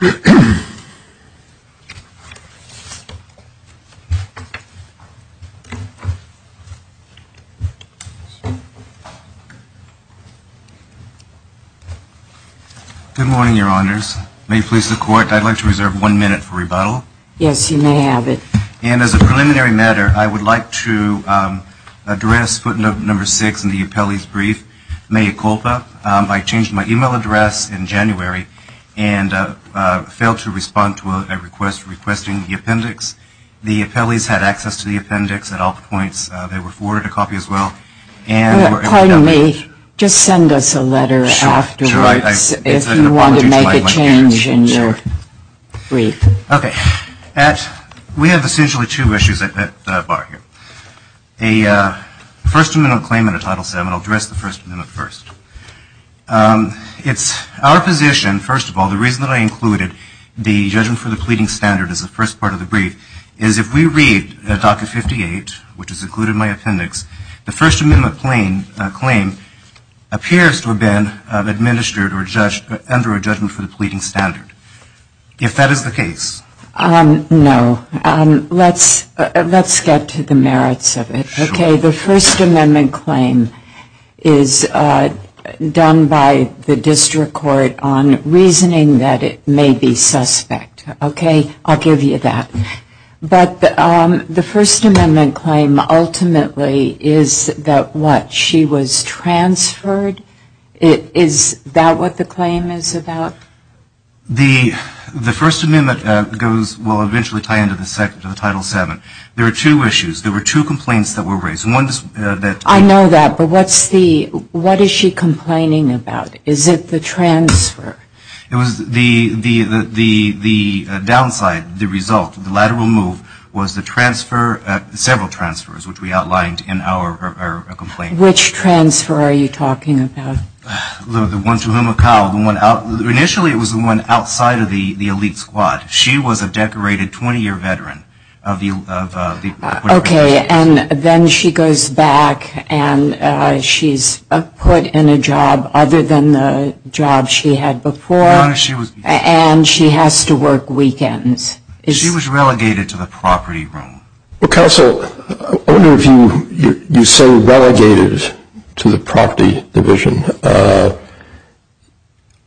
Good morning, your honors. May it please the court, I'd like to reserve one minute for rebuttal. Yes, you may have it. And as a preliminary matter, I would like to address footnote number six in the appellee's brief, mea culpa. I changed my email address in January and failed to respond to a request requesting the appendix. The appellee's had access to the appendix at all points. They were forwarded a copy as well and were able to download it. Pardon me, just send us a letter afterwards if you want to make a change in your brief. Okay. We have essentially two issues at the bar here. A First Amendment claim in a title seven. I'll address the First Amendment first. It's our position, first of all, the reason that I included the judgment for the pleading standard as the first part of the brief is if we read docket 58, which is included in my appendix, the First Amendment claim appears to have been administered or judged under a judgment for the pleading standard. If that is the case. No. Let's get to the merits of it. Okay. The First Amendment claim is done by the district court on reasoning that it may be suspect. Okay. I'll give you that. But the First Amendment claim ultimately is that what, she was transferred? Is that what the claim is about? The First Amendment will eventually tie into the title seven. There are two issues. There were two complaints that were raised. I know that, but what is she complaining about? Is it the transfer? The downside, the result, the lateral move was the transfer, several transfers, which we outlined in our complaint. Which transfer are you talking about? The one to Humacao. Initially, it was the one outside of the elite squad. She was a decorated 20-year veteran. Okay. And then she goes back and she's put in a job other than the job she had before. And she has to work weekends. She was relegated to the property room. Well, Counsel, I wonder if you say relegated to the property division.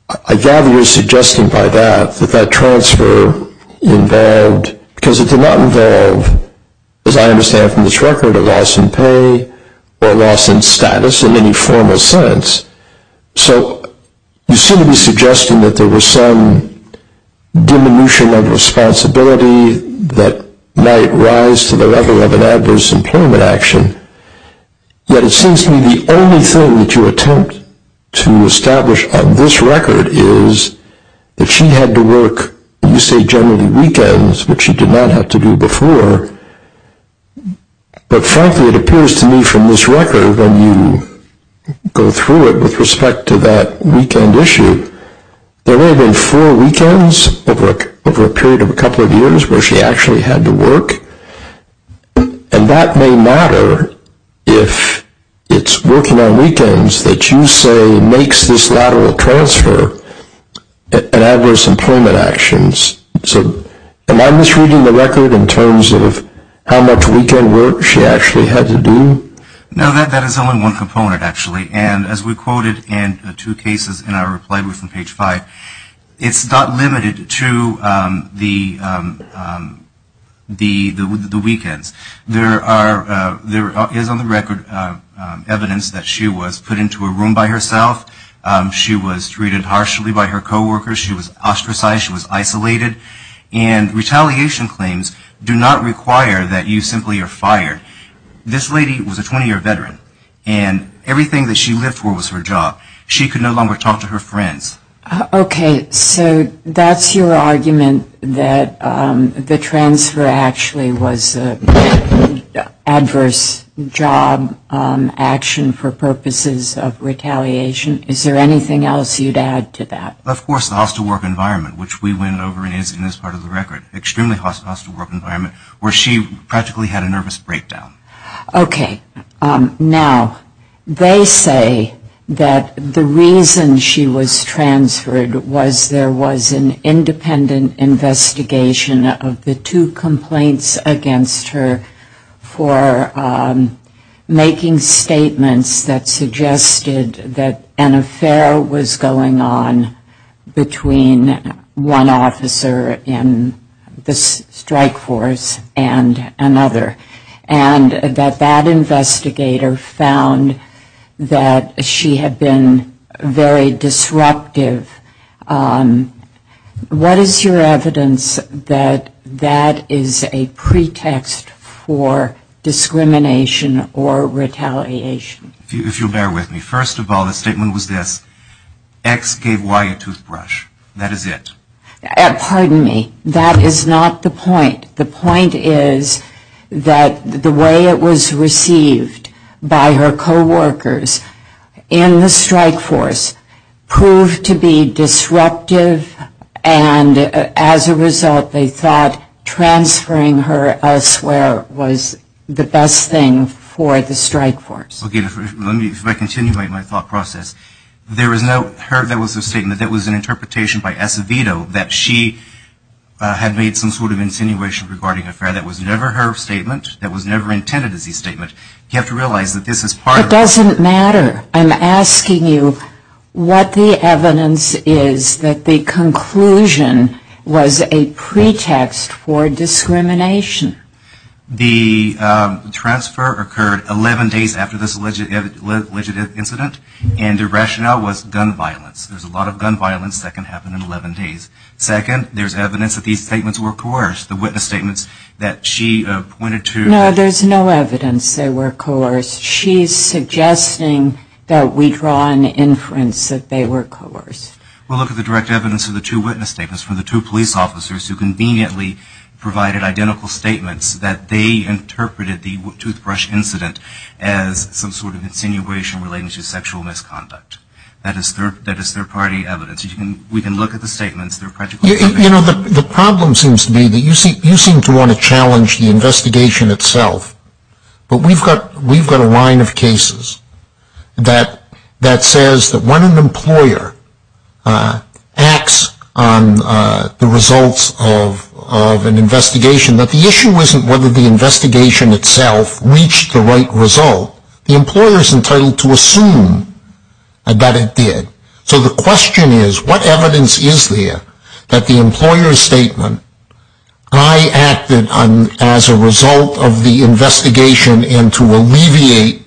I gather you're suggesting by that, that that transfer involved, because it did not involve, as I understand from this record, a loss in pay or a loss in status in any formal sense. So you seem to be suggesting that there was some diminution of responsibility that might rise to the level of an adverse employment action. Yet it seems to me the only thing that you attempt to establish on this record is that she had to work, you say generally weekends, which she did not have to do before. But frankly, it appears to me from this record, when you go through it with respect to that weekend issue, there may have been four weekends over a period of a couple of years where she actually had to work. And that may matter if it's working on weekends that you say makes this lateral transfer an adverse employment action. So am I misreading the record in terms of how much weekend work she actually had to do? No, that is only one component, actually. And as we quoted in the two cases in our reply from page five, it's not limited to the weekends. There is on the record evidence that she was put into a room by herself. She was treated harshly by her coworkers. She was ostracized. She was isolated. And retaliation claims do not require that you simply are fired. This lady was a 20-year veteran. And everything that she lived for was her job. She could no longer talk to her friends. Okay. So that's your argument that the transfer actually was an adverse job action for purposes of retaliation. Is there anything else you'd add to that? Of course, the hostile work environment, which we went over in this part of the record. Extremely hostile work environment where she practically had a nervous breakdown. Okay. Now, they say that the reason she was transferred was there was an independent investigation of the two complaints against her for making statements that suggested that an affair was going on between one officer in the strike force and another. And that that investigator found that she had been very disruptive. What is your evidence that that is a pretext for discrimination or retaliation? If you'll bear with me. First of all, the statement was this. X gave Y a toothbrush. That is it. Pardon me. That is not the point. The point is that the way it was received by her coworkers in the strike force proved to be disruptive. And as a result, they thought transferring her elsewhere was the best thing for the strike force. Okay. If I continue my thought process, there was a statement that was an interpretation by Acevedo that she had made some sort of insinuation regarding an affair that was never her statement, that was never intended as a statement. You have to realize that this is part of the matter. I'm asking you what the evidence is that the conclusion was a pretext for discrimination. The transfer occurred 11 days after this alleged incident, and the rationale was gun violence. There's a lot of gun violence that can happen in 11 days. Second, there's evidence that these statements were coerced, the witness statements that she pointed to. No, there's no evidence they were coerced. She's suggesting that we draw an inference that they were coerced. Well, look at the direct evidence of the two witness statements from the two police officers who conveniently provided identical statements that they interpreted the toothbrush incident as some sort of insinuation relating to sexual misconduct. That is their party evidence. We can look at the statements. You know, the problem seems to be that you seem to want to challenge the investigation itself, but we've got a line of cases that says that when an employer acts on the results of an investigation, that the issue isn't whether the investigation itself reached the right result. The employer is entitled to assume that it did. So the question is, what evidence is there that the employer's statement, I acted as a result of the investigation and to alleviate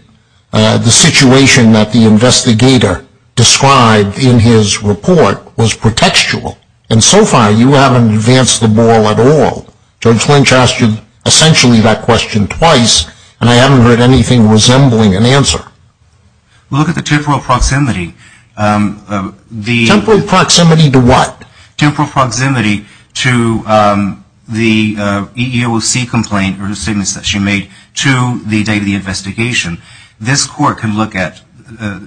the situation that the investigator described in his report, was pretextual, and so far you haven't advanced the ball at all. Judge Lynch asked you essentially that question twice, and I haven't heard anything resembling an answer. Well, look at the temporal proximity. Temporal proximity to what? Temporal proximity to the EEOC complaint or the statements that she made to the day of the investigation. This court can look at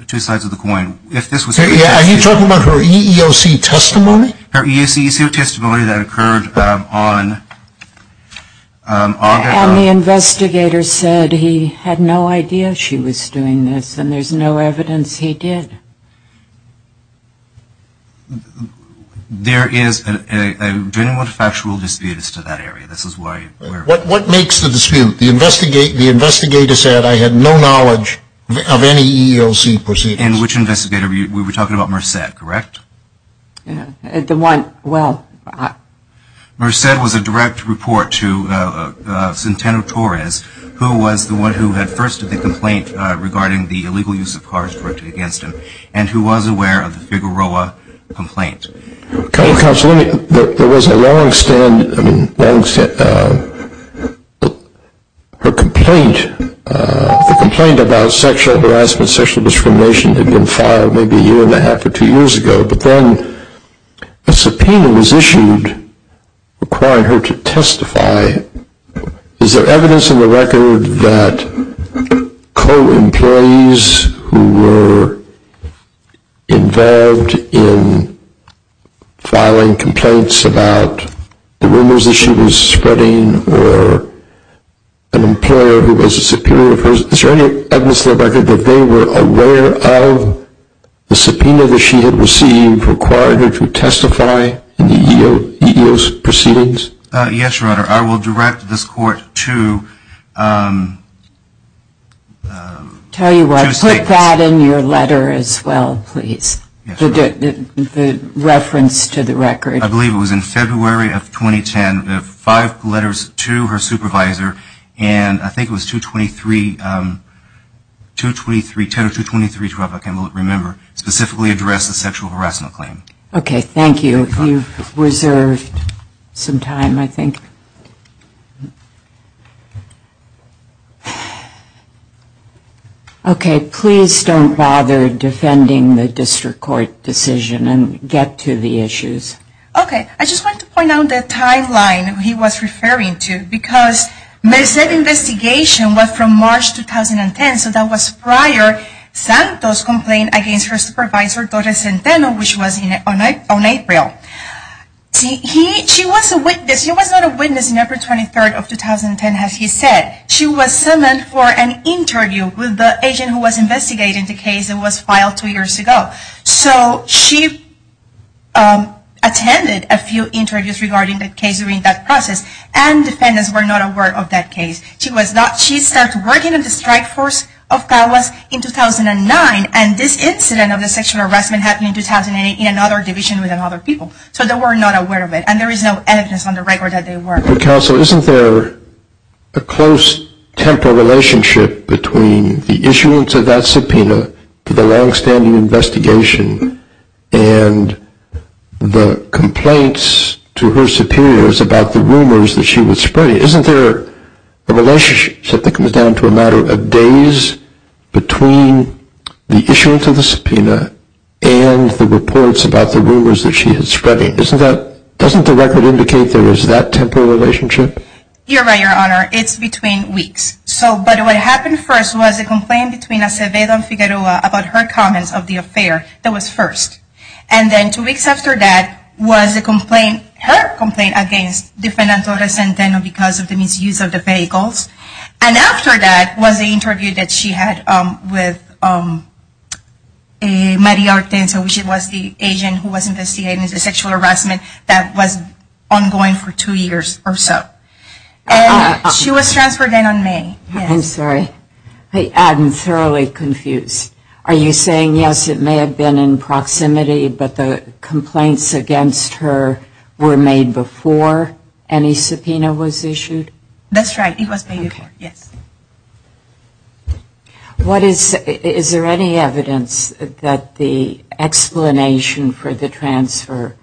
two sides of the coin. Are you talking about her EEOC testimony? Her EEOC testimony that occurred on Aug. And the investigator said he had no idea she was doing this, and there's no evidence he did. There is a genuine factual dispute as to that area. What makes the dispute? The investigator said I had no knowledge of any EEOC proceedings. And which investigator? We were talking about Merced, correct? The one, well. Merced was a direct report to Centeno-Torres, who was the one who had first did the complaint regarding the illegal use of cars directed against him, and who was aware of the Figueroa complaint. Counselor, there was a long-standing complaint about sexual harassment, sexual discrimination that had been filed maybe a year and a half or two years ago, but then a subpoena was issued requiring her to testify. Is there evidence in the record that co-employees who were involved in filing complaints about the rumors that she was spreading or an employer who was a superior person, is there any evidence in the record that they were aware of the subpoena that she had received requiring her to testify in the EEOC proceedings? Yes, Your Honor. I will direct this court to state this. Tell you what, put that in your letter as well, please, the reference to the record. I believe it was in February of 2010. Five letters to her supervisor, and I think it was 2-23-10 or 2-23-12, I can't remember, specifically addressed the sexual harassment claim. Okay, thank you. You've reserved some time, I think. Okay, please don't bother defending the district court decision and get to the issues. Okay, I just want to point out the timeline he was referring to, because Merced's investigation was from March 2010, so that was prior Santos' complaint against her supervisor, Torres Centeno, which was on April. She was a witness. She was not a witness on April 23, 2010, as he said. She was summoned for an interview with the agent who was investigating the case that was filed two years ago. So she attended a few interviews regarding the case during that process, and defendants were not aware of that case. She was not. She started working at the strike force of Calwas in 2009, and this incident of the sexual harassment happened in 2008 in another division with other people. So they were not aware of it, and there is no evidence on the record that they were. Counsel, isn't there a close temporal relationship between the issuance of that subpoena to the longstanding investigation and the complaints to her superiors about the rumors that she was spreading? Isn't there a relationship that comes down to a matter of days between the issuance of the subpoena and the reports about the rumors that she was spreading? Doesn't the record indicate there is that temporal relationship? You're right, Your Honor. It's between weeks. But what happened first was a complaint between Acevedo and Figueroa about her comments of the affair. That was first. And then two weeks after that was a complaint, her complaint, against defendant Torres-Santeno because of the misuse of the vehicles. And after that was the interview that she had with Maria Arteza, which was the agent who was investigating the sexual harassment that was ongoing for two years or so. And she was transferred in on May. I'm sorry. I'm thoroughly confused. Are you saying, yes, it may have been in proximity, but the complaints against her were made before any subpoena was issued? That's right. It was made before, yes. Is there any evidence that the explanation for the transfer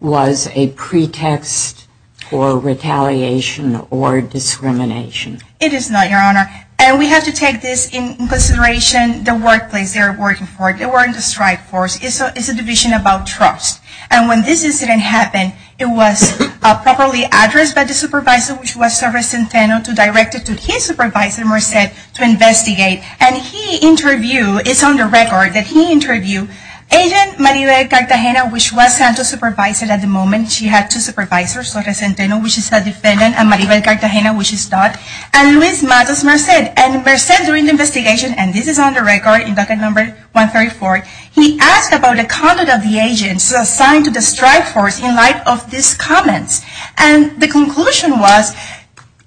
was a pretext for retaliation or discrimination? It is not, Your Honor. And we have to take this in consideration, the workplace they were working for, they were in the strike force. It's a division about trust. And when this incident happened, it was properly addressed by the supervisor, which was Torres-Santeno, to direct it to his supervisor, Merced, to investigate. And he interviewed, it's on the record that he interviewed agent Maribel Cartagena, which was Santos' supervisor at the moment. She had two supervisors, Torres-Santeno, which is a defendant, and Maribel Cartagena, which is not. And Luis Matos Merced. And Merced, during the investigation, and this is on the record in docket number 134, he asked about the conduct of the agents assigned to the strike force in light of these comments. And the conclusion was,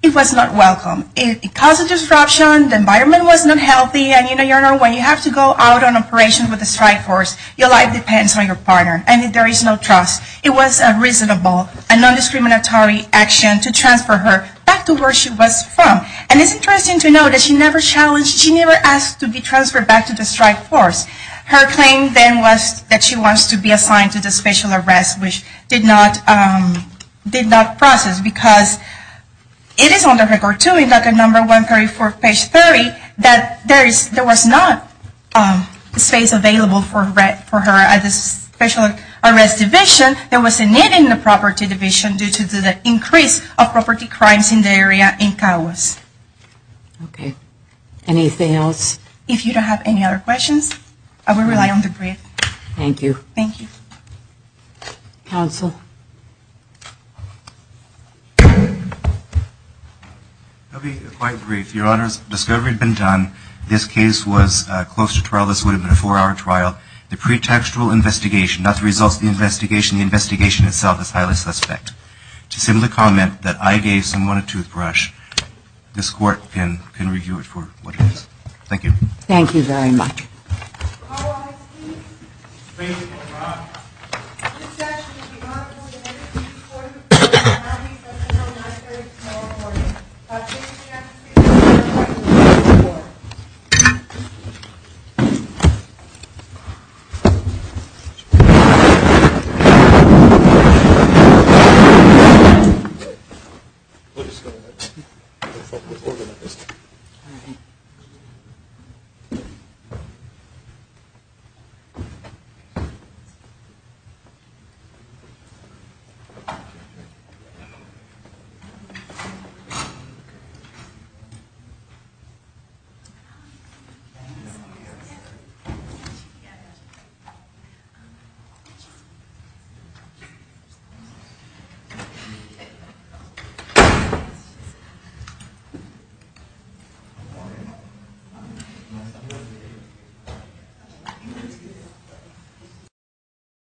it was not welcome. It caused a disruption, the environment was not healthy, and you know, Your Honor, when you have to go out on operation with the strike force, your life depends on your partner. And there is no trust. It was a reasonable and non-discriminatory action to transfer her back to where she was from. And it's interesting to note that she never challenged, she never asked to be transferred back to the strike force. Her claim then was that she wants to be assigned to the special arrest, which did not process. Because it is on the record, too, in docket number 134, page 30, that there was not space available for her at the special arrest division. There was a need in the property division due to the increase of property crimes in the area in Cahuas. Okay. Anything else? If you don't have any other questions, I will rely on the brief. Thank you. Thank you. Counsel. I'll be quite brief. Your Honor, discovery had been done. This case was close to trial. This would have been a four-hour trial. The pretextual investigation, not the results of the investigation, the investigation itself is highly suspect. To simply comment that I gave someone a toothbrush, this Court can review it for what it is. Thank you. Thank you very much. Thank you. Thank you.